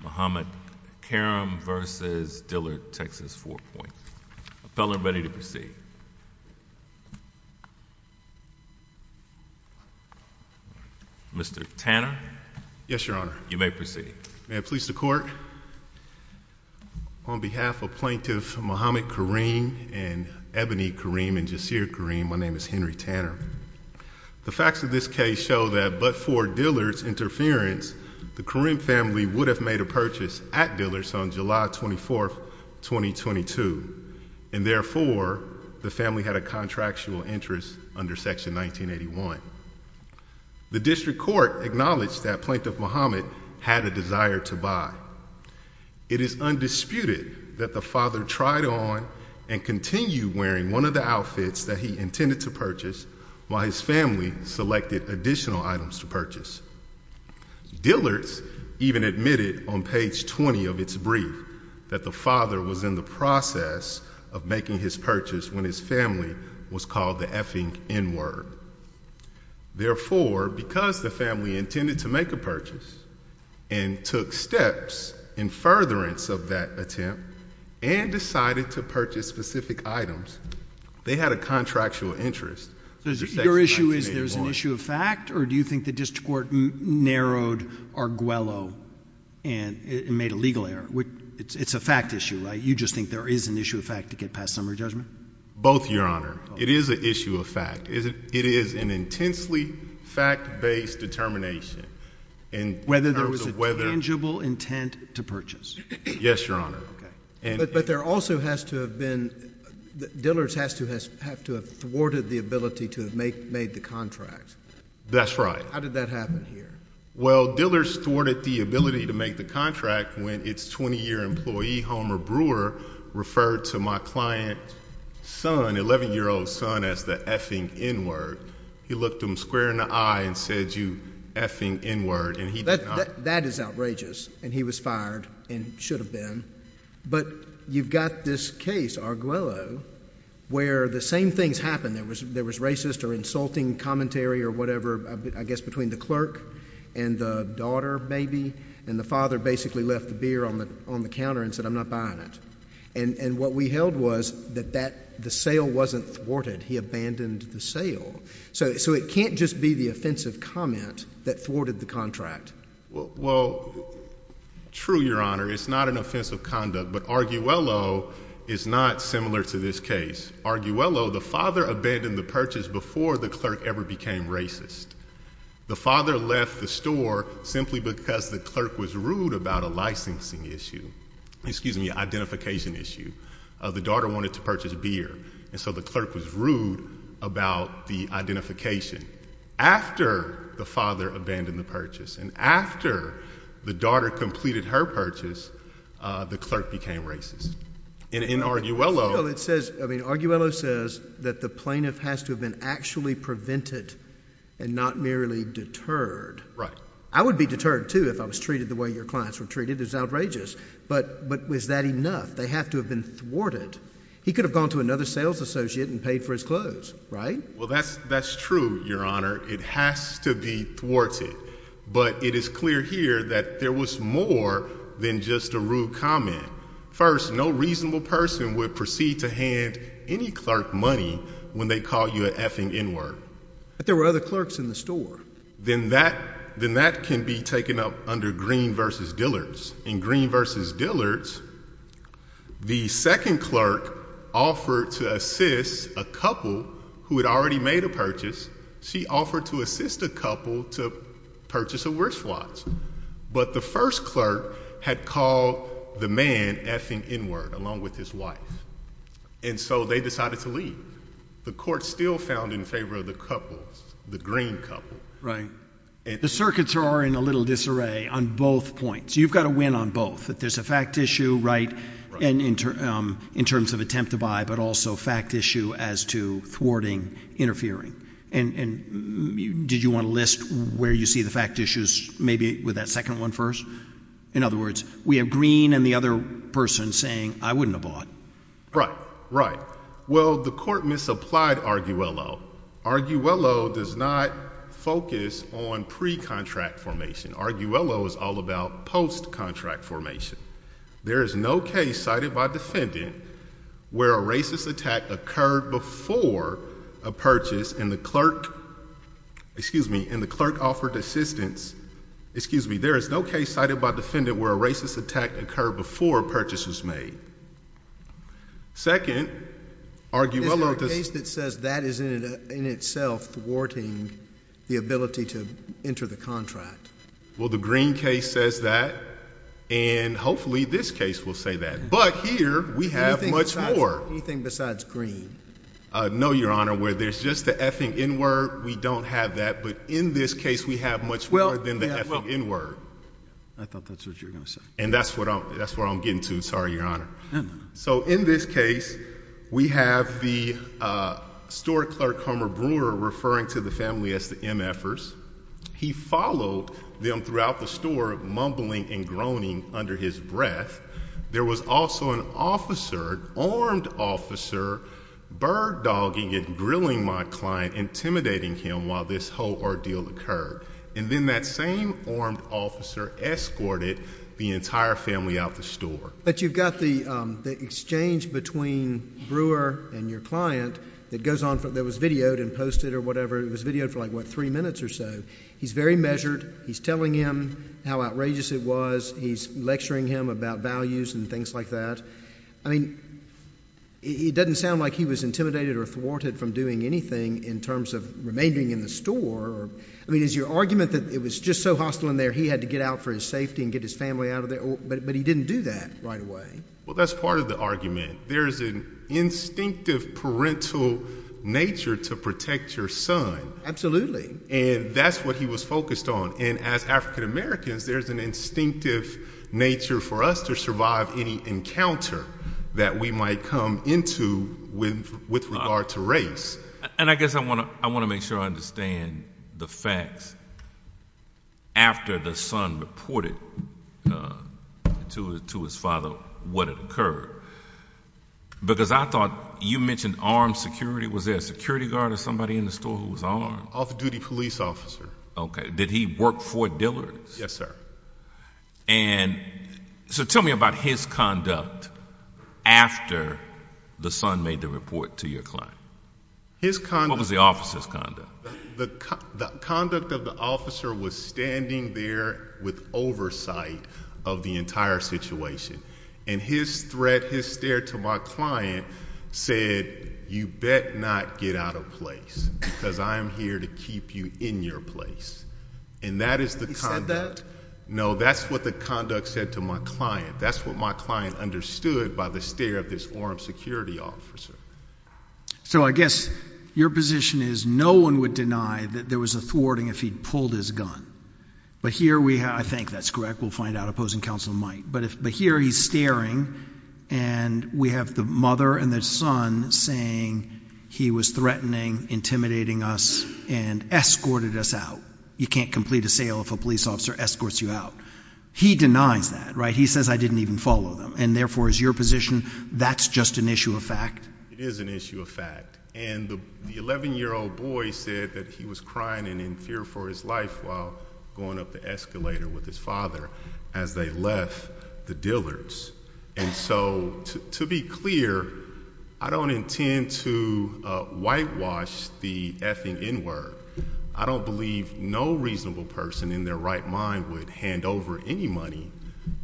Mohamed Karim v. Dillard TX Four-Point. Mr. Tanner. Yes, Your Honor. You may proceed. May I please the court? On behalf of Plaintiff Mohamed Karim and Ebony Karim and Jasir Karim, my name is Henry Tanner. The facts of this case show that but for Dillard's interference, the Karim family would have made a purchase at Dillard's on July 24th, 2022. And therefore, the family had a contractual interest under Section 1981. The district court acknowledged that Plaintiff Mohamed had a desire to buy. It is undisputed that the father tried on and continued wearing one of the outfits that he intended to purchase while his family selected additional items to purchase. Dillard's even admitted on page 20 of its brief that the father was in the process of making his purchase when his family was called the effing N-word. Therefore, because the family intended to make a purchase and took steps in furtherance of that attempt and decided to purchase specific items, they had a contractual interest. Your issue is there's an issue of fact or do you think the district court narrowed Arguello and made a legal error? It's a fact issue, right? You just think there is an issue of fact to get past summary judgment? Both, Your Honor. It is an issue of fact. It is an intensely fact-based determination. Whether there was a tangible intent to purchase? Yes, Your Honor. But there also has to have been, Dillard's has to have thwarted the ability to have made the contract. That's right. How did that happen here? Well, Dillard's thwarted the ability to make the contract when its 20-year employee, Homer Brewer, referred to my client's son, 11-year-old son, as the effing N-word. He looked him square in the eye and said, you effing N-word. That is outrageous. And he was fired and should have been. But you've got this case, Arguello, where the same things happened. There was racist or insulting commentary or whatever, I guess, between the clerk and the daughter, maybe. And the father basically left the beer on the counter and said, I'm not buying it. And what we held was that the sale wasn't thwarted. He abandoned the sale. So it can't just be the offensive comment that thwarted the contract. Well, true, Your Honor, it's not an offensive conduct, but Arguello is not similar to this case. Arguello, the father abandoned the purchase before the clerk ever became racist. The father left the store simply because the clerk was rude about a licensing issue, excuse me, identification issue. The daughter wanted to purchase beer, and so the clerk was rude about the identification. After the father abandoned the purchase and after the daughter completed her purchase, the clerk became racist. And in Arguello… Well, it says, I mean, Arguello says that the plaintiff has to have been actually prevented and not merely deterred. I would be deterred, too, if I was treated the way your clients were treated. It's outrageous. But was that enough? They have to have been thwarted. He could have gone to another sales associate and paid for his clothes, right? Well, that's true, Your Honor. It has to be thwarted. But it is clear here that there was more than just a rude comment. First, no reasonable person would proceed to hand any clerk money when they called you an effing N-word. But there were other clerks in the store. Then that can be taken up under Green v. Dillard's. In Green v. Dillard's, the second clerk offered to assist a couple who had already made a purchase. She offered to assist a couple to purchase a wristwatch. But the first clerk had called the man effing N-word along with his wife. And so they decided to leave. The court still found in favor of the couple, the Green couple. Right. The circuits are in a little disarray on both points. You've got a win on both. That there's a fact issue, right, in terms of attempt to buy, but also fact issue as to thwarting, interfering. And did you want to list where you see the fact issues maybe with that second one first? In other words, we have Green and the other person saying, I wouldn't have bought. Right. Right. Well, the court misapplied Arguello. Arguello does not focus on pre-contract formation. Arguello is all about post-contract formation. There is no case cited by defendant where a racist attack occurred before a purchase. And the clerk, excuse me, and the clerk offered assistance, excuse me, there is no case cited by defendant where a racist attack occurred before a purchase was made. Second, Arguello does not focus on pre-contract formation. And the clerk says that is in itself thwarting the ability to enter the contract. Well, the Green case says that. And hopefully this case will say that. But here we have much more. Anything besides Green? No, Your Honor. Where there's just the ething in word, we don't have that. But in this case, we have much more than the ething in word. I thought that's what you were going to say. And that's what I'm getting to. Sorry, Your Honor. So in this case, we have the store clerk, Homer Brewer, referring to the family as the MFers. He followed them throughout the store mumbling and groaning under his breath. There was also an officer, armed officer, bird-dogging and grilling my client, intimidating him while this whole ordeal occurred. And then that same armed officer escorted the entire family out the store. But you've got the exchange between Brewer and your client that goes on, that was videoed and posted or whatever. It was videoed for like, what, three minutes or so. He's very measured. He's telling him how outrageous it was. He's lecturing him about values and things like that. I mean, it doesn't sound like he was intimidated or thwarted from doing anything in terms of remaining in the store. I mean, is your argument that it was just so hostile in there, he had to get out for his safety and get his family out of there? But he didn't do that right away. Well, that's part of the argument. There's an instinctive parental nature to protect your son. And that's what he was focused on. And as African-Americans, there's an instinctive nature for us to survive any encounter that we might come into with regard to race. And I guess I want to make sure I understand the facts. After the son reported to his father what had occurred, because I thought you mentioned armed security. Was there a security guard or somebody in the store who was armed? Off-duty police officer. Okay. Did he work for Dillard's? Yes, sir. And so tell me about his conduct after the son made the report to your client. What was the officer's conduct? The conduct of the officer was standing there with oversight of the entire situation. And his threat, his stare to my client said, you bet not get out of place because I am here to keep you in your place. And that is the conduct. He said that? No, that's what the conduct said to my client. That's what my client understood by the stare of this armed security officer. So I guess your position is no one would deny that there was a thwarting if he pulled his gun. But here we have, I think that's correct. We'll find out. Opposing counsel might. But here he's staring and we have the mother and the son saying he was threatening, intimidating us, and escorted us out. You can't complete a sale if a police officer escorts you out. He denies that, right? He says I didn't even follow them. And therefore, is your position, that's just an issue of fact? It is an issue of fact. And the 11-year-old boy said that he was crying and in fear for his life while going up the escalator with his father as they left the Dillard's. And so, to be clear, I don't intend to whitewash the F in N word. I don't believe no reasonable person in their right mind would hand over any money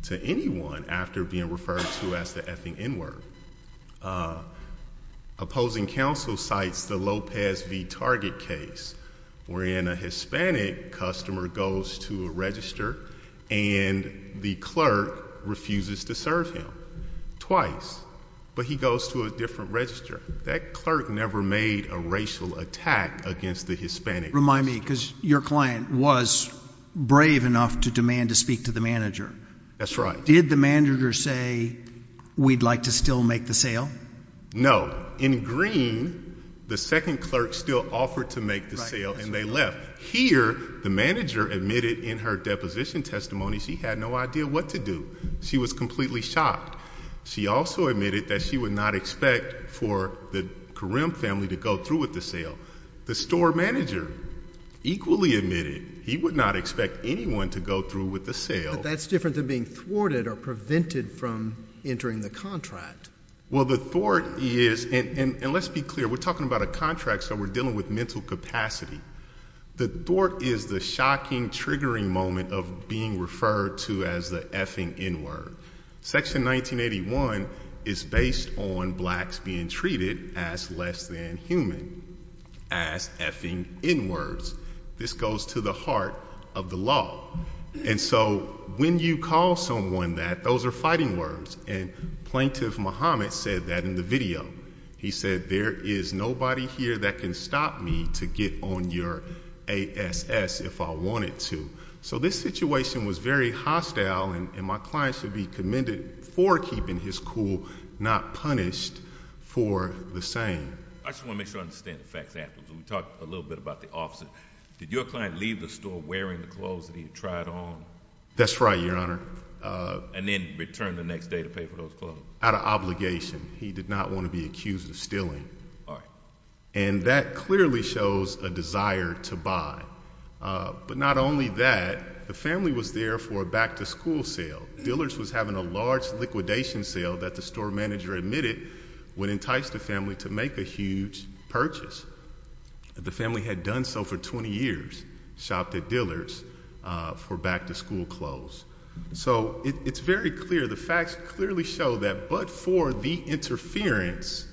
to anyone after being referred to as the F in N word. Opposing counsel cites the Lopez v. Target case wherein a Hispanic customer goes to a register and the clerk refuses to serve him. Twice. But he goes to a different register. That clerk never made a racial attack against the Hispanic customer. Remind me, because your client was brave enough to demand to speak to the manager. That's right. Did the manager say we'd like to still make the sale? No. In green, the second clerk still offered to make the sale and they left. Here, the manager admitted in her deposition testimony she had no idea what to do. She was completely shocked. She also admitted that she would not expect for the Kareem family to go through with the sale. The store manager equally admitted he would not expect anyone to go through with the sale. So they're either being thwarted or prevented from entering the contract. Well, the thwart is, and let's be clear, we're talking about a contract so we're dealing with mental capacity. The thwart is the shocking, triggering moment of being referred to as the F in N word. Section 1981 is based on blacks being treated as less than human. As F in N words. This goes to the heart of the law. And so when you call someone that, those are fighting words. And Plaintiff Muhammad said that in the video. He said there is nobody here that can stop me to get on your ASS if I wanted to. So this situation was very hostile and my client should be commended for keeping his cool, not punished for the same. I just want to make sure I understand the facts afterwards. We talked a little bit about the officer. Did your client leave the store wearing the clothes that he had tried on? That's right, Your Honor. And then return the next day to pay for those clothes? Out of obligation. He did not want to be accused of stealing. And that clearly shows a desire to buy. But not only that, the family was there for a back to school sale. Dillard's was having a large liquidation sale that the store manager admitted would entice the family to make a huge purchase. The family had done so for 20 years. Shopped at Dillard's for back to school clothes. So it's very clear. The facts clearly show that. But for the interference,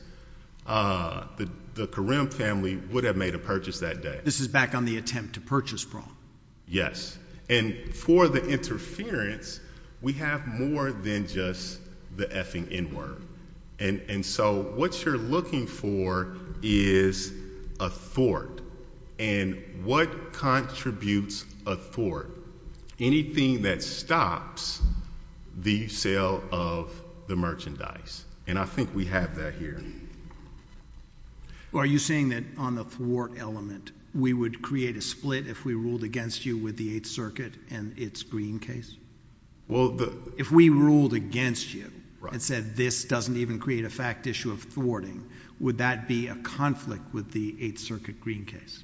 the Karim family would have made a purchase that day. This is back on the attempt to purchase bra. Yes. And for the interference, we have more than just the F-ing N-word. And so what you're looking for is a thwart. And what contributes a thwart? Anything that stops the sale of the merchandise. And I think we have that here. Are you saying that on the thwart element, we would create a split if we ruled against you with the Eighth Circuit and its Green case? If we ruled against you and said this doesn't even create a fact issue of thwarting, would that be a conflict with the Eighth Circuit Green case?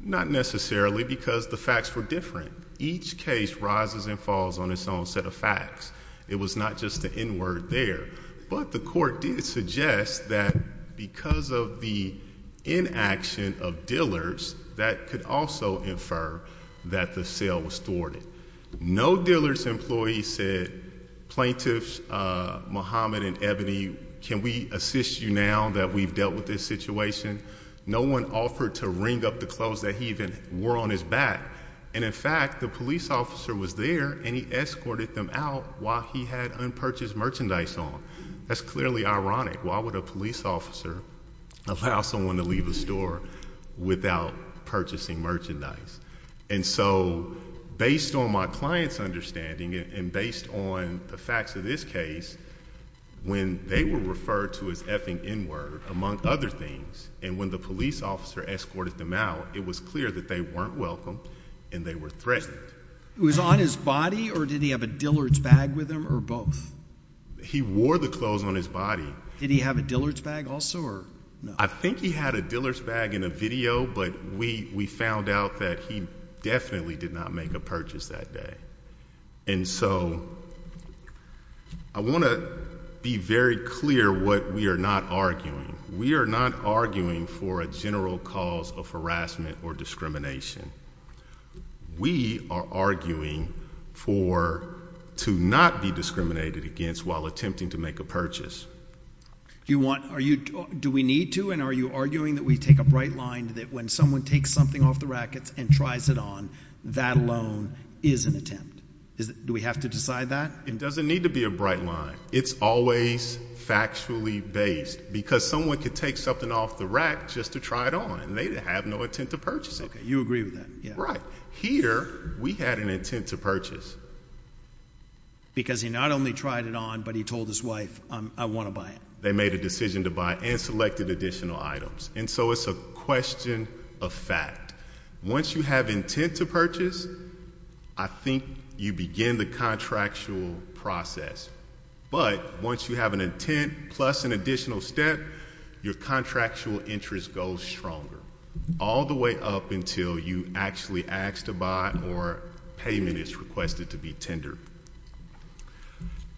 Not necessarily because the facts were different. Each case rises and falls on its own set of facts. It was not just the N-word there. But the court did suggest that because of the inaction of Dillard's, that could also infer that the sale was thwarted. No Dillard's employee said, Plaintiffs Muhammad and Ebony, can we assist you now that we've dealt with this situation? No one offered to wring up the clothes that he even wore on his back. And in fact, the police officer was there and he escorted them out while he had unpurchased merchandise on. That's clearly ironic. Why would a police officer allow someone to leave a store without purchasing merchandise? And so, based on my client's understanding and based on the facts of this case, when they were referred to as F-ing N-word, among other things, and when the police officer escorted them out, it was clear that they weren't welcome and they were threatened. Was on his body or did he have a Dillard's bag with him or both? He wore the clothes on his body. Did he have a Dillard's bag also or no? I think he had a Dillard's bag in a video, but we found out that he definitely did not make a purchase that day. And so, I want to be very clear what we are not arguing. We are not arguing for a general cause of harassment or discrimination. We are arguing for, to not be discriminated against while attempting to make a purchase. Do we need to and are you arguing that we take a bright line that when someone takes something off the rack and tries it on, that alone is an attempt? Do we have to decide that? It doesn't need to be a bright line. It's always factually based because someone could take something off the rack just to try it on and they have no intent to purchase it. Okay, you agree with that. Right. Here, we had an intent to purchase. Because he not only tried it on, but he told his wife, I want to buy it. They made a decision to buy and selected additional items. And so, it's a question of fact. Once you have intent to purchase, I think you begin the contractual process. But, once you have an intent plus an additional step, your contractual interest goes stronger. All the way up until you actually ask to buy or payment is requested to be tendered.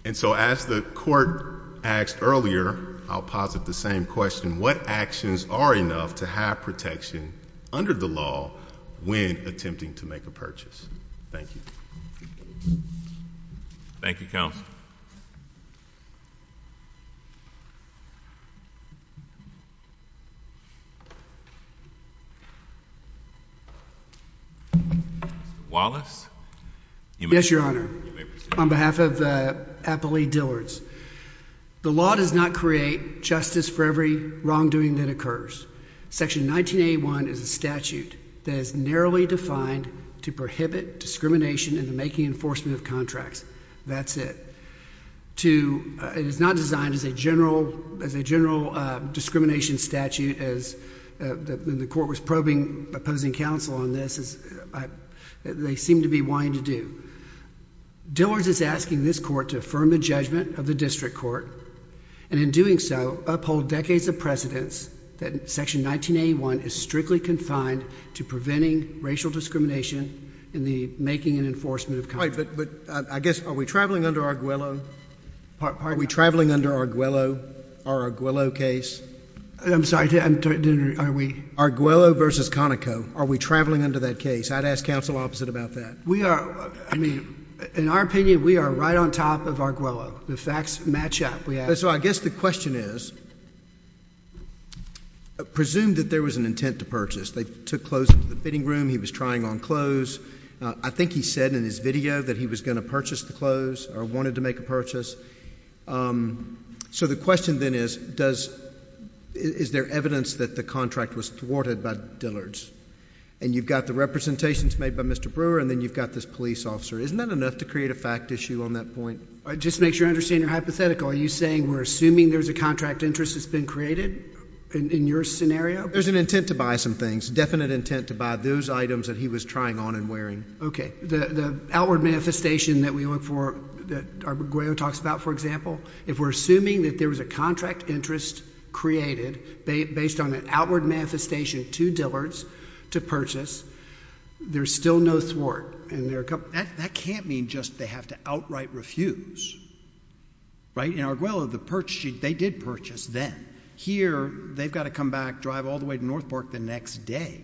And so, as the court asked earlier, I'll posit the same question. What actions are enough to have protection under the law when attempting to make a purchase? Thank you. Thank you, counsel. Mr. Wallace. Yes, Your Honor. You may proceed. On behalf of Applee Dillards. The law does not create justice for every wrongdoing that occurs. Section 1981 is a statute that is narrowly defined to prohibit discrimination in the making and enforcement of contracts. That's it. It is not designed as a general discrimination statute as the court was probing opposing counsel on this. They seem to be wanting to do. Dillards is asking this court to affirm the judgment of the district court. And in doing so, uphold decades of precedence that section 1981 is strictly confined to preventing racial discrimination in the making and enforcement of contracts. All right. But I guess, are we traveling under Arguello? Are we traveling under Arguello? Our Arguello case? I'm sorry. Are we? Arguello versus Conoco. Are we traveling under that case? I'd ask counsel opposite about that. We are. I mean, in our opinion, we are right on top of Arguello. The facts match up. So I guess the question is, presume that there was an intent to purchase. They took clothes into the fitting room. He was trying on clothes. I think he said in his video that he was going to purchase the clothes or wanted to make a purchase. So the question then is, is there evidence that the contract was thwarted by Dillards? And you've got the representations made by Mr. Brewer and then you've got this police officer. Isn't that enough to create a fact issue on that point? It just makes you understand your hypothetical. Are you saying we're assuming there's a contract interest that's been created in your scenario? There's an intent to buy some things. There's definite intent to buy those items that he was trying on and wearing. Okay. The outward manifestation that we look for, that Arguello talks about, for example, if we're assuming that there was a contract interest created based on an outward manifestation to Dillards to purchase, there's still no thwart. That can't mean just they have to outright refuse. Right? In Arguello, they did purchase then. Here, they've got to come back, drive all the way to North Park the next day.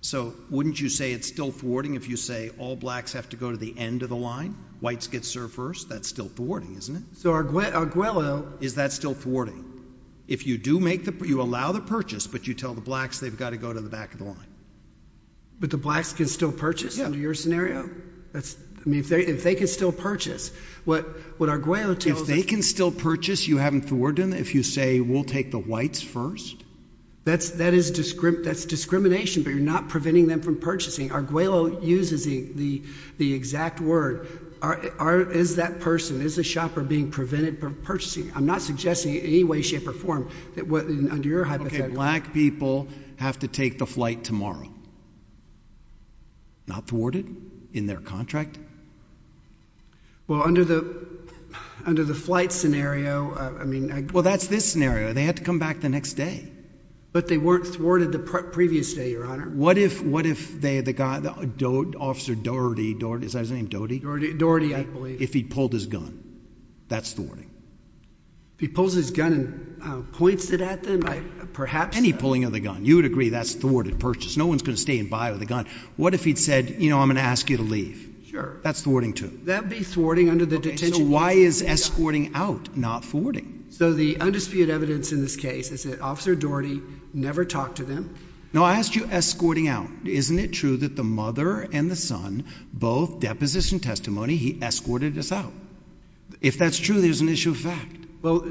So wouldn't you say it's still thwarting if you say all blacks have to go to the end of the line, whites get served first? That's still thwarting, isn't it? So Arguello— Is that still thwarting? If you do make the—you allow the purchase, but you tell the blacks they've got to go to the back of the line. But the blacks can still purchase under your scenario? Yeah. I mean, if they can still purchase, what Arguello tells us— If they can still purchase, you haven't thwarted them if you say we'll take the whites first? That's discrimination, but you're not preventing them from purchasing. Arguello uses the exact word. Is that person, is the shopper being prevented from purchasing? I'm not suggesting in any way, shape, or form that under your hypothetical— Okay, black people have to take the flight tomorrow. Not thwarted in their contract? Well, under the flight scenario, I mean— Well, that's this scenario. They had to come back the next day. But they weren't thwarted the previous day, Your Honor. What if they—the guy, Officer Doherty—is his name Doherty? Doherty, I believe. If he pulled his gun, that's thwarting? If he pulls his gun and points it at them, perhaps— Any pulling of the gun. You would agree that's thwarted purchase. No one's going to stay and buy with a gun. What if he'd said, you know, I'm going to ask you to leave? Sure. That's thwarting too? That would be thwarting under the detention— Okay, so why is escorting out not thwarting? So the undisputed evidence in this case is that Officer Doherty never talked to them. Now, I asked you escorting out. Isn't it true that the mother and the son both deposition testimony he escorted us out? If that's true, there's an issue of fact. Well,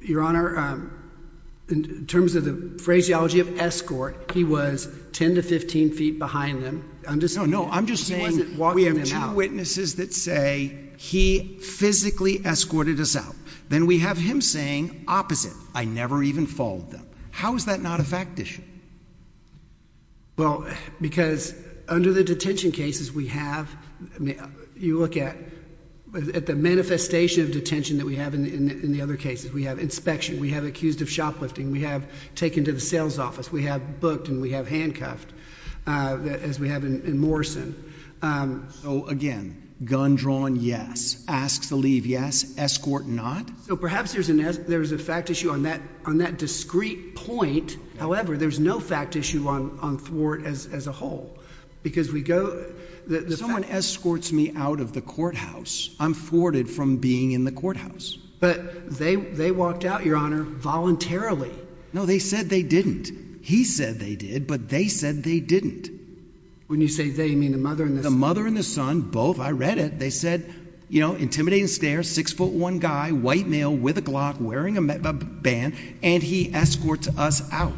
Your Honor, in terms of the phraseology of escort, he was 10 to 15 feet behind them. No, I'm just saying we have two witnesses that say he physically escorted us out. Then we have him saying opposite. I never even followed them. How is that not a fact issue? Well, because under the detention cases we have, you look at the manifestation of detention that we have in the other cases. We have inspection. We have accused of shoplifting. We have taken to the sales office. We have booked and we have handcuffed. As we have in Morrison. So again, gun drawn, yes. Ask to leave, yes. Escort, not. So perhaps there's a fact issue on that discrete point. However, there's no fact issue on thwart as a whole. Someone escorts me out of the courthouse. I'm thwarted from being in the courthouse. But they walked out, Your Honor, voluntarily. No, they said they didn't. He said they did, but they said they didn't. When you say they, you mean the mother and the son? The mother and the son, both. I read it. They said, you know, intimidating stare, 6'1 guy, white male with a Glock, wearing a band, and he escorts us out.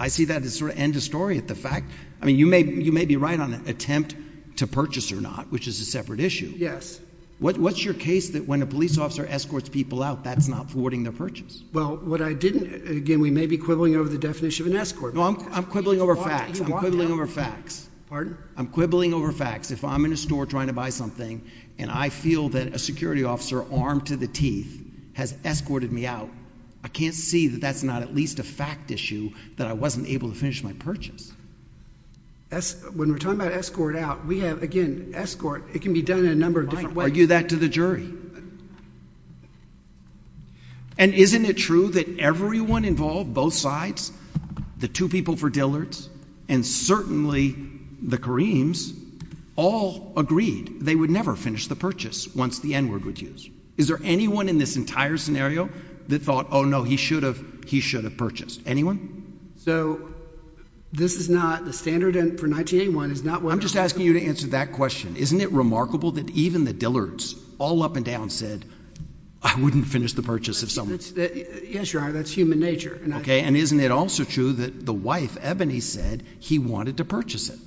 I see that as sort of end of story at the fact. I mean, you may be right on attempt to purchase or not, which is a separate issue. Yes. What's your case that when a police officer escorts people out, that's not thwarting their purchase? Well, what I didn't, again, we may be quibbling over the definition of an escort. No, I'm quibbling over facts. I'm quibbling over facts. Pardon? I'm quibbling over facts. If I'm in a store trying to buy something and I feel that a security officer armed to the teeth has escorted me out, I can't see that that's not at least a fact issue that I wasn't able to finish my purchase. When we're talking about escort out, we have, again, escort, it can be done in a number of different ways. Are you that to the jury? And isn't it true that everyone involved, both sides, the two people for Dillard's, and certainly the Kareem's, all agreed they would never finish the purchase once the N-word was used? Is there anyone in this entire scenario that thought, oh, no, he should have purchased? Anyone? So this is not the standard for 1981 is not what? I'm just asking you to answer that question. Isn't it remarkable that even the Dillard's all up and down said I wouldn't finish the purchase if someone? Yes, you are. That's human nature. Okay. And isn't it also true that the wife, Ebony, said he wanted to purchase it?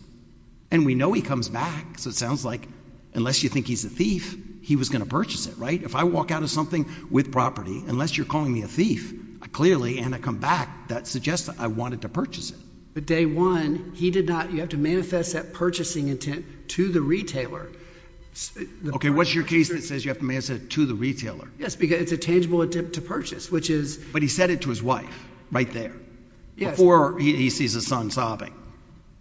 And we know he comes back. So it sounds like unless you think he's a thief, he was going to purchase it, right? If I walk out of something with property, unless you're calling me a thief, clearly, and I come back, that suggests I wanted to purchase it. But day one, he did not. You have to manifest that purchasing intent to the retailer. Okay. What's your case that says you have to manifest it to the retailer? Yes, because it's a tangible attempt to purchase, which is. But he said it to his wife right there. Yes. Before he sees his son sobbing.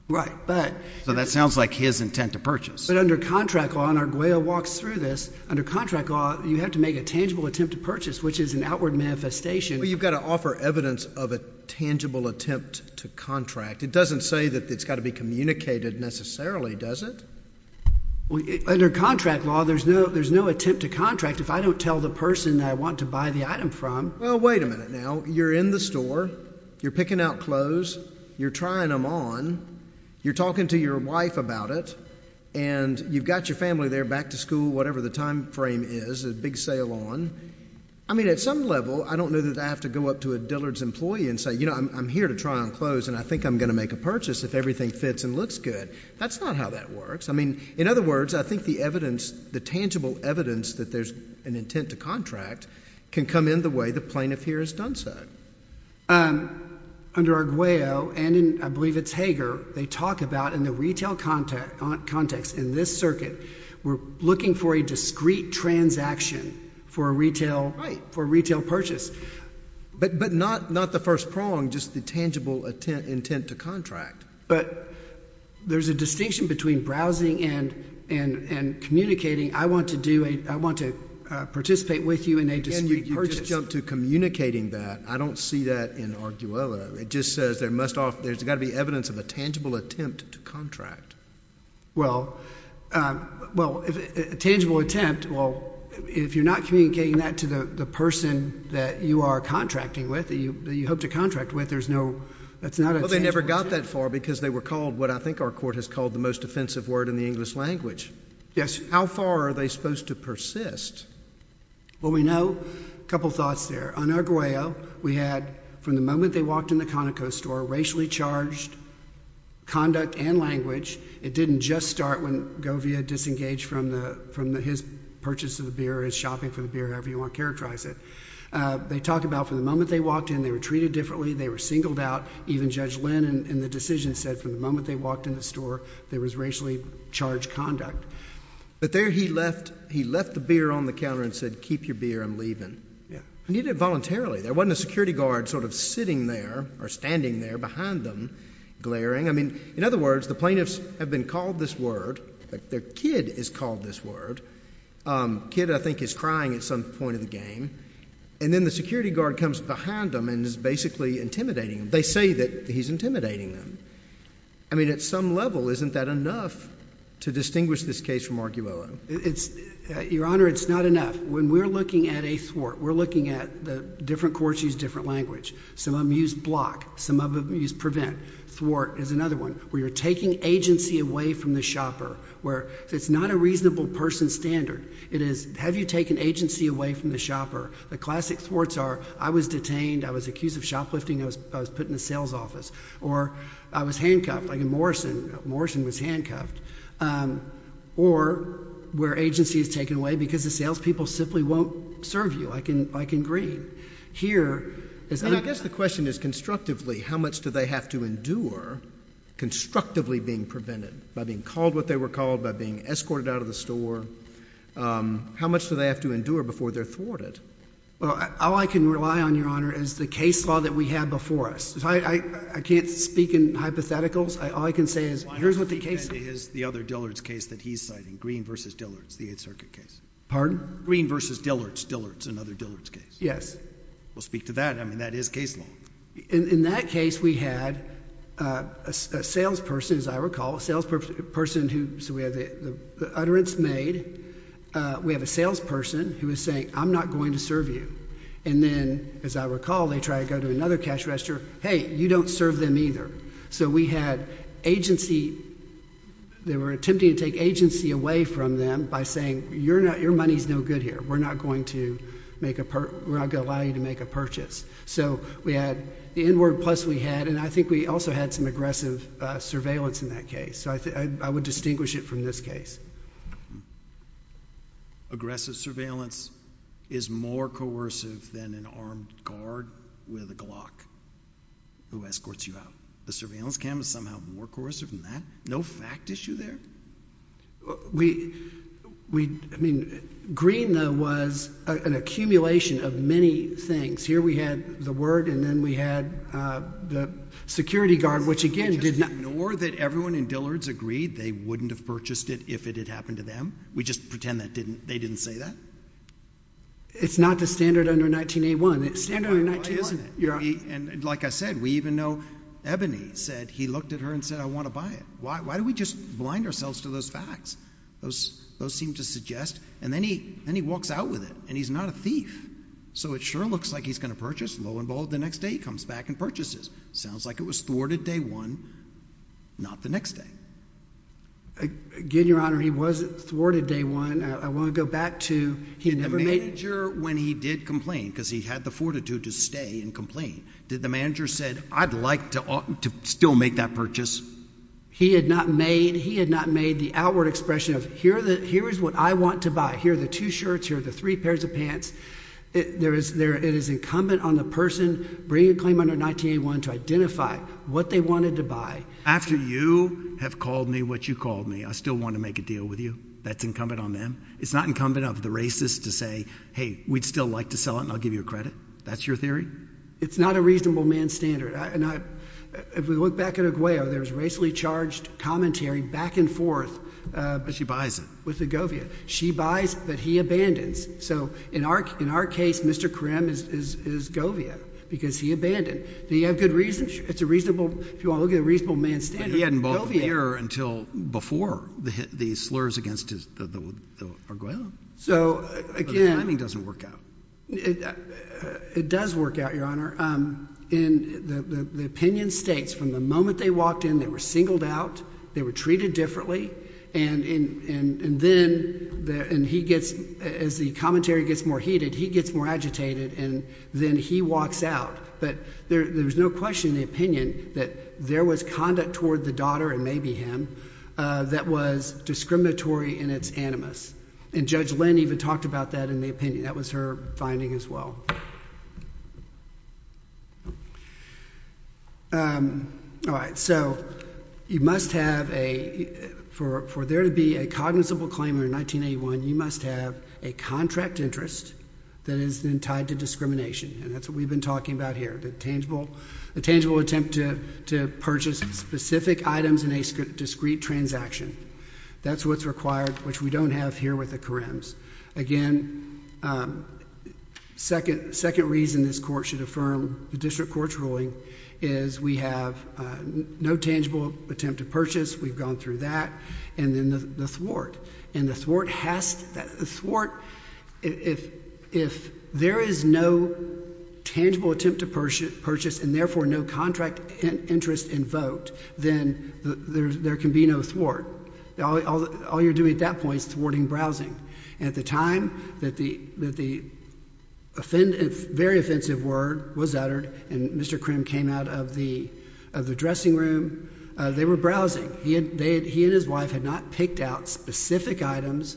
Right. But. So that sounds like his intent to purchase. But under contract law, and Arguello walks through this, under contract law, you have to make a tangible attempt to purchase, which is an outward manifestation. But you've got to offer evidence of a tangible attempt to contract. It doesn't say that it's got to be communicated necessarily, does it? Under contract law, there's no attempt to contract if I don't tell the person I want to buy the item from. Well, wait a minute now. You're in the store. You're picking out clothes. You're trying them on. You're talking to your wife about it. And you've got your family there, back to school, whatever the time frame is, a big sale on. I mean, at some level, I don't know that I have to go up to a Dillard's employee and say, you know, I'm here to try on clothes, and I think I'm going to make a purchase if everything fits and looks good. That's not how that works. I mean, in other words, I think the evidence, the tangible evidence that there's an intent to contract can come in the way the plaintiff here has done so. Under Arguello, and I believe it's Hager, they talk about in the retail context in this circuit, we're looking for a discrete transaction for a retail purchase. But not the first prong, just the tangible intent to contract. But there's a distinction between browsing and communicating. I want to participate with you in a discrete purchase. You just jumped to communicating that. I don't see that in Arguello. It just says there's got to be evidence of a tangible attempt to contract. Well, a tangible attempt, well, if you're not communicating that to the person that you are contracting with, that you hope to contract with, there's no, that's not a tangible attempt. Well, they never got that far because they were called what I think our court has called the most offensive word in the English language. Yes. How far are they supposed to persist? Well, we know a couple thoughts there. On Arguello, we had from the moment they walked in the Conoco store, racially charged conduct and language. It didn't just start when Govia disengaged from his purchase of the beer, his shopping for the beer, however you want to characterize it. They talk about from the moment they walked in, they were treated differently. They were singled out. Even Judge Lynn in the decision said from the moment they walked in the store, there was racially charged conduct. But there he left the beer on the counter and said, keep your beer, I'm leaving. He did it voluntarily. There wasn't a security guard sort of sitting there or standing there behind them glaring. I mean, in other words, the plaintiffs have been called this word. Their kid is called this word. Kid, I think, is crying at some point in the game. And then the security guard comes behind them and is basically intimidating them. They say that he's intimidating them. I mean, at some level, isn't that enough to distinguish this case from Arguello? Your Honor, it's not enough. When we're looking at a thwart, we're looking at the different courts use different language. Some of them use block. Some of them use prevent. Thwart is another one, where you're taking agency away from the shopper. It's not a reasonable person standard. It is, have you taken agency away from the shopper? The classic thwarts are, I was detained. I was accused of shoplifting. I was put in the sales office. Or I was handcuffed, like in Morrison. Morrison was handcuffed. Or where agency is taken away because the salespeople simply won't serve you. I can agree. Here is any— And I guess the question is constructively, how much do they have to endure constructively being prevented by being called what they were called, by being escorted out of the store? How much do they have to endure before they're thwarted? Well, all I can rely on, Your Honor, is the case law that we have before us. I can't speak in hypotheticals. All I can say is, here's what the case— Well, I don't think that is the other Dillard's case that he's citing, Green v. Dillard's, the 8th Circuit case. Pardon? Green v. Dillard's, Dillard's, another Dillard's case. Yes. Well, speak to that. I mean, that is case law. In that case, we had a salesperson, as I recall, a salesperson who—so we have the utterance made. We have a salesperson who is saying, I'm not going to serve you. And then, as I recall, they try to go to another cash register. Hey, you don't serve them either. So we had agency—they were attempting to take agency away from them by saying, your money is no good here. We're not going to make a—we're not going to allow you to make a purchase. So we had the N-word plus we had, and I think we also had some aggressive surveillance in that case. So I would distinguish it from this case. Aggressive surveillance is more coercive than an armed guard with a Glock who escorts you out. The surveillance cam is somehow more coercive than that? No fact issue there? We—I mean, Green, though, was an accumulation of many things. Here we had the word, and then we had the security guard, which, again, did not— We just pretend that didn't—they didn't say that? It's not the standard under 19-A-1. It's standard under 19-A-1, isn't it? And like I said, we even know Ebony said—he looked at her and said, I want to buy it. Why do we just blind ourselves to those facts? Those seem to suggest—and then he walks out with it, and he's not a thief. So it sure looks like he's going to purchase. Low and bold, the next day he comes back and purchases. Sounds like it was thwarted day one, not the next day. Again, Your Honor, he was thwarted day one. I want to go back to he never made— Did the manager, when he did complain, because he had the fortitude to stay and complain, did the manager said, I'd like to still make that purchase? He had not made—he had not made the outward expression of, here is what I want to buy. Here are the two shirts. Here are the three pairs of pants. It is incumbent on the person bringing a claim under 19-A-1 to identify what they wanted to buy. After you have called me what you called me, I still want to make a deal with you? That's incumbent on them? It's not incumbent on the racist to say, hey, we'd still like to sell it, and I'll give you a credit? That's your theory? It's not a reasonable man's standard. If we look back at Aguayo, there's racially charged commentary back and forth. But she buys it. With the Govia. She buys, but he abandons. So in our case, Mr. Krim is Govia because he abandoned. Do you have good reason? It's a reasonable—if you want to look at a reasonable man's standard, Govia. But he hadn't bought Govia until before the slurs against Aguayo. So again— The timing doesn't work out. It does work out, Your Honor. And the opinion states from the moment they walked in, they were singled out, they were treated differently, and then he gets—as the commentary gets more heated, he gets more agitated, and then he walks out. But there's no question in the opinion that there was conduct toward the daughter, and maybe him, that was discriminatory in its animus. And Judge Lynn even talked about that in the opinion. That was her finding as well. All right, so you must have a—for there to be a cognizant claimant in 1981, you must have a contract interest that is then tied to discrimination. And that's what we've been talking about here, the tangible attempt to purchase specific items in a discrete transaction. That's what's required, which we don't have here with the Karems. Again, second reason this Court should affirm the district court's ruling is we have no tangible attempt to purchase. We've gone through that. And then the thwart. And the thwart has to—the thwart—if there is no tangible attempt to purchase and, therefore, no contract interest in vote, then there can be no thwart. All you're doing at that point is thwarting browsing. And at the time that the very offensive word was uttered and Mr. Krim came out of the dressing room, they were browsing. He and his wife had not picked out specific items,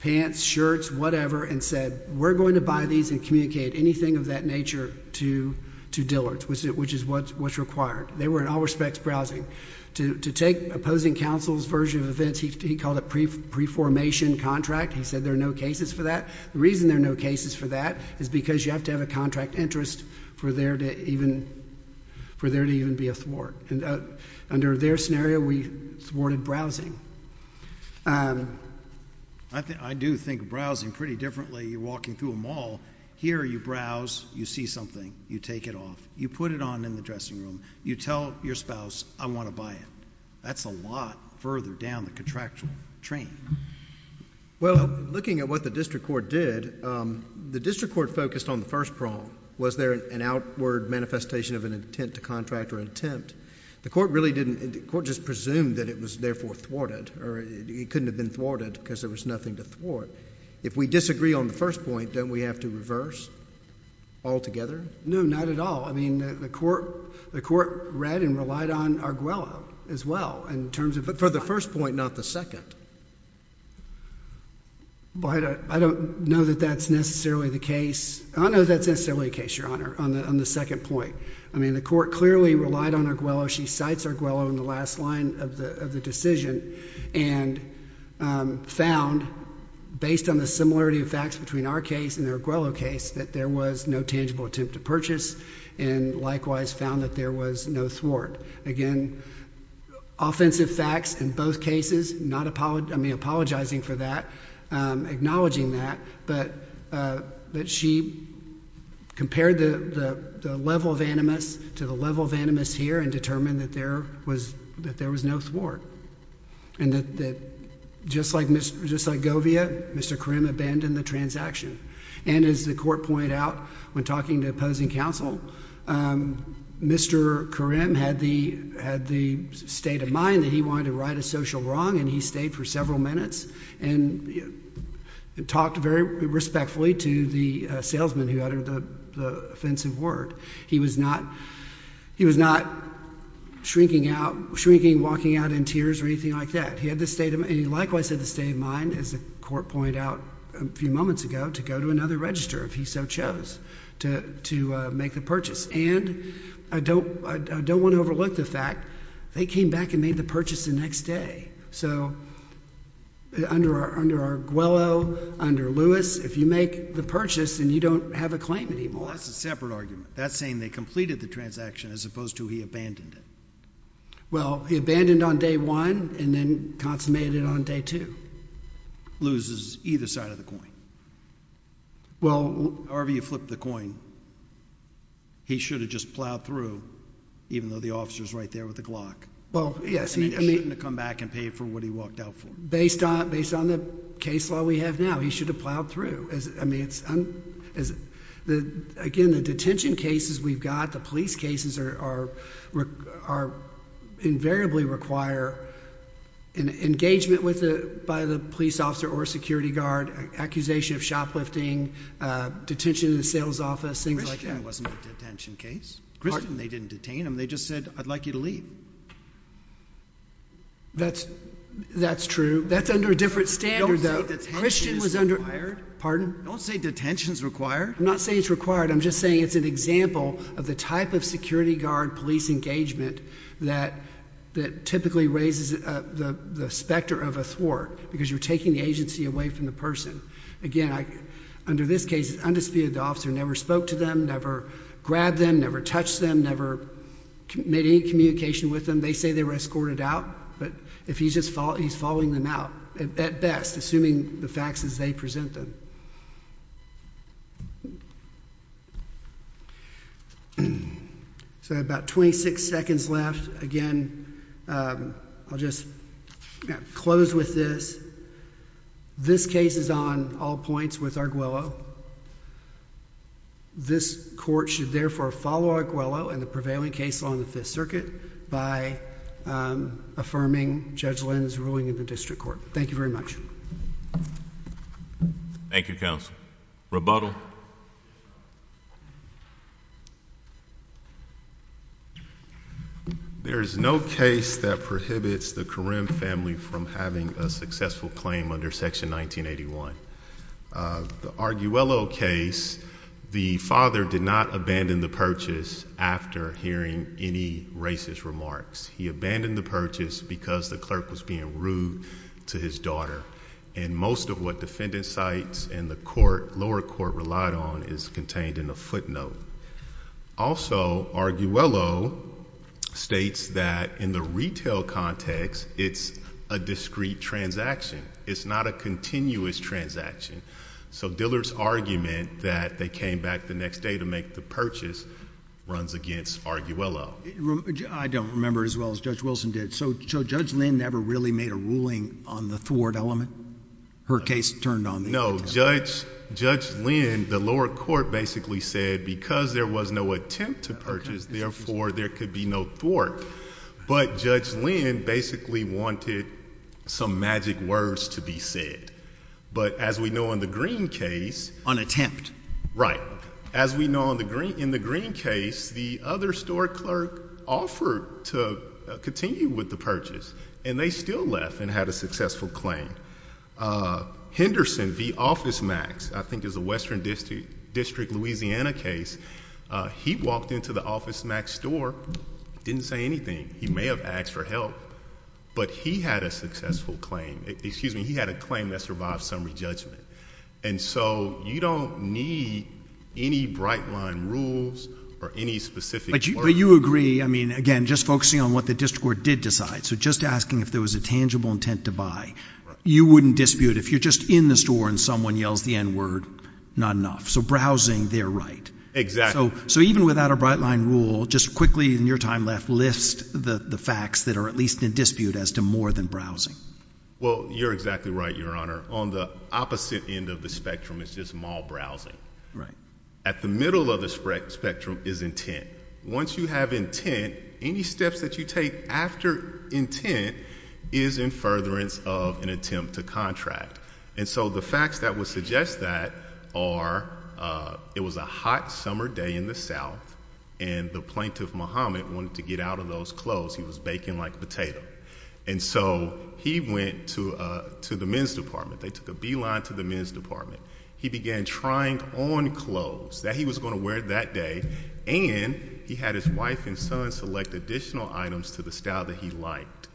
pants, shirts, whatever, and said, we're going to buy these and communicate anything of that nature to Dillard's, which is what's required. They were in all respects browsing. To take opposing counsel's version of events, he called it pre-formation contract. He said there are no cases for that. The reason there are no cases for that is because you have to have a contract interest for there to even be a thwart. Under their scenario, we thwarted browsing. I do think browsing pretty differently. You're walking through a mall. Here you browse. You see something. You take it off. You put it on in the dressing room. You tell your spouse, I want to buy it. That's a lot further down the contractual train. Well, looking at what the district court did, the district court focused on the first problem. Was there an outward manifestation of an intent to contract or an attempt? The court really didn't. The court just presumed that it was therefore thwarted, or it couldn't have been thwarted because there was nothing to thwart. If we disagree on the first point, don't we have to reverse altogether? No, not at all. I mean, the court read and relied on Arguello as well. But for the first point, not the second. I don't know that that's necessarily the case. I don't know that that's necessarily the case, Your Honor, on the second point. I mean, the court clearly relied on Arguello. She cites Arguello in the last line of the decision and found, based on the similarity of facts between our case and the Arguello case, that there was no tangible attempt to purchase and likewise found that there was no thwart. Again, offensive facts in both cases, not apologizing for that, acknowledging that, but she compared the level of animus to the level of animus here and determined that there was no thwart. And that just like Govia, Mr. Karim abandoned the transaction. And as the court pointed out when talking to opposing counsel, Mr. Karim had the state of mind that he wanted to right a social wrong and he stayed for several minutes and talked very respectfully to the salesman who uttered the offensive word. He was not shrinking, walking out in tears or anything like that. He had the state of mind and he likewise had the state of mind, as the court pointed out a few moments ago, to go to another register if he so chose to make the purchase. And I don't want to overlook the fact they came back and made the purchase the next day. So under Arguello, under Lewis, if you make the purchase then you don't have a claim anymore. That's a separate argument. That's saying they completed the transaction as opposed to he abandoned it. Well, he abandoned on day one and then consummated on day two. Loses either side of the coin. Well, However you flip the coin, he should have just plowed through even though the officer is right there with the Glock. Well, yes. He shouldn't have come back and paid for what he walked out for. Based on the case law we have now, he should have plowed through. Again, the detention cases we've got, the police cases, are invariably require engagement by the police officer or security guard, accusation of shoplifting, detention in the sales office, things like that. Christian wasn't a detention case. Pardon? They didn't detain him. They just said, I'd like you to leave. That's true. That's under a different standard though. Pardon? Don't say detention is required. I'm not saying it's required. I'm just saying it's an example of the type of security guard police engagement that typically raises the specter of a thwart because you're taking the agency away from the person. Again, under this case, undisputed, the officer never spoke to them, never grabbed them, never touched them, never made any communication with them. They say they were escorted out. But he's following them out at best, assuming the facts as they present them. So about 26 seconds left. Again, I'll just close with this. This case is on all points with Arguello. This court should therefore follow Arguello and the prevailing case along the Fifth Circuit by affirming Judge Lynn's ruling in the district court. Thank you very much. Thank you, counsel. Rebuttal? There is no case that prohibits the Corim family from having a successful claim under Section 1981. The Arguello case, the father did not abandon the purchase after hearing any racist remarks. He abandoned the purchase because the clerk was being rude to his daughter. And most of what defendant sites and the lower court relied on is contained in a footnote. Also, Arguello states that in the retail context, it's a discrete transaction. It's not a continuous transaction. So Dillard's argument that they came back the next day to make the purchase runs against Arguello. I don't remember as well as Judge Wilson did. So Judge Lynn never really made a ruling on the thwart element? Her case turned on the court. No. Judge Lynn, the lower court basically said because there was no attempt to purchase, therefore there could be no thwart. But Judge Lynn basically wanted some magic words to be said. But as we know in the Green case. On attempt. Right. As we know in the Green case, the other store clerk offered to continue with the purchase. And they still left and had a successful claim. Henderson v. Office Max, I think is a Western District, Louisiana case, he walked into the Office Max store, didn't say anything. He may have asked for help. But he had a successful claim. Excuse me, he had a claim that survived summary judgment. And so you don't need any bright line rules or any specific clerk. But you agree, I mean, again, just focusing on what the district court did decide. So just asking if there was a tangible intent to buy. You wouldn't dispute. If you're just in the store and someone yells the N word, not enough. So browsing, they're right. Exactly. So even without a bright line rule, just quickly in your time left, list the facts that are at least in dispute as to more than browsing. Well, you're exactly right, Your Honor. On the opposite end of the spectrum, it's just mall browsing. Right. At the middle of the spectrum is intent. Once you have intent, any steps that you take after intent is in furtherance of an attempt to contract. And so the facts that would suggest that are it was a hot summer day in the south. And the plaintiff, Muhammad, wanted to get out of those clothes. He was baking like a potato. And so he went to the men's department. They took a beeline to the men's department. He began trying on clothes that he was going to wear that day. And he had his wife and son select additional items to the style that he liked.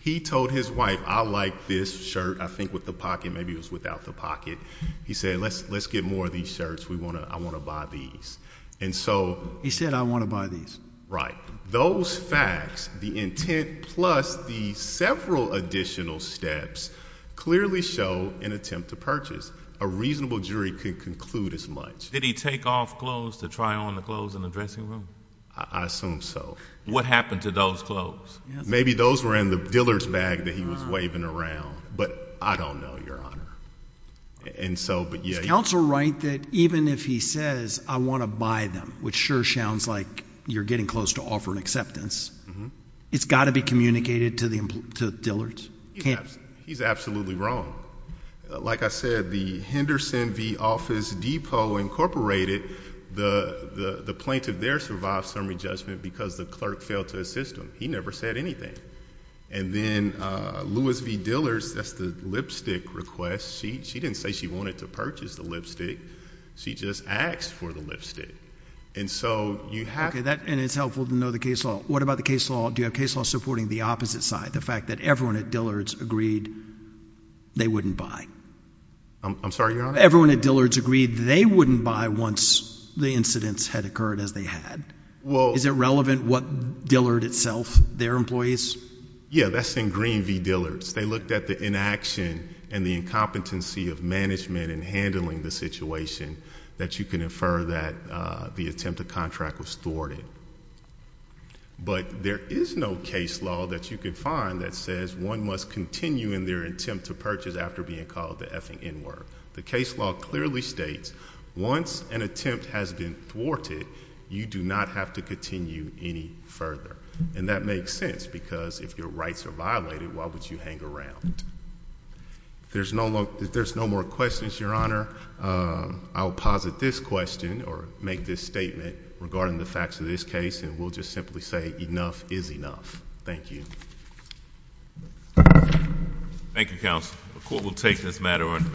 He told his wife, I like this shirt, I think with the pocket, maybe it was without the pocket. He said, let's get more of these shirts. I want to buy these. And so. He said, I want to buy these. Right. Those facts, the intent plus the several additional steps clearly show an attempt to purchase. A reasonable jury could conclude as much. Did he take off clothes to try on the clothes in the dressing room? I assume so. What happened to those clothes? Maybe those were in the dealer's bag that he was waving around. But I don't know, Your Honor. Is counsel right that even if he says, I want to buy them, which sure sounds like you're getting close to offering acceptance, it's got to be communicated to the dealers? He's absolutely wrong. Like I said, the Henderson v. Office Depot Incorporated, the plaintiff there survived summary judgment because the clerk failed to assist him. He never said anything. And then Lewis v. Dillard's, that's the lipstick request. She didn't say she wanted to purchase the lipstick. She just asked for the lipstick. And so you have to. And it's helpful to know the case law. What about the case law? Do you have case law supporting the opposite side? The fact that everyone at Dillard's agreed they wouldn't buy. I'm sorry, Your Honor? Everyone at Dillard's agreed they wouldn't buy once the incidents had occurred as they had. Is it relevant what Dillard itself, their employees? Yeah, that's in Green v. Dillard's. They looked at the inaction and the incompetency of management in handling the situation that you can infer that the attempted contract was thwarted. But there is no case law that you can find that says one must continue in their attempt to purchase after being called the effing N-word. The case law clearly states once an attempt has been thwarted, you do not have to continue any further. And that makes sense because if your rights are violated, why would you hang around? There's no more questions, Your Honor. I'll posit this question or make this statement regarding the facts of this case. And we'll just simply say enough is enough. Thank you. Thank you, Counsel. The court will take this matter.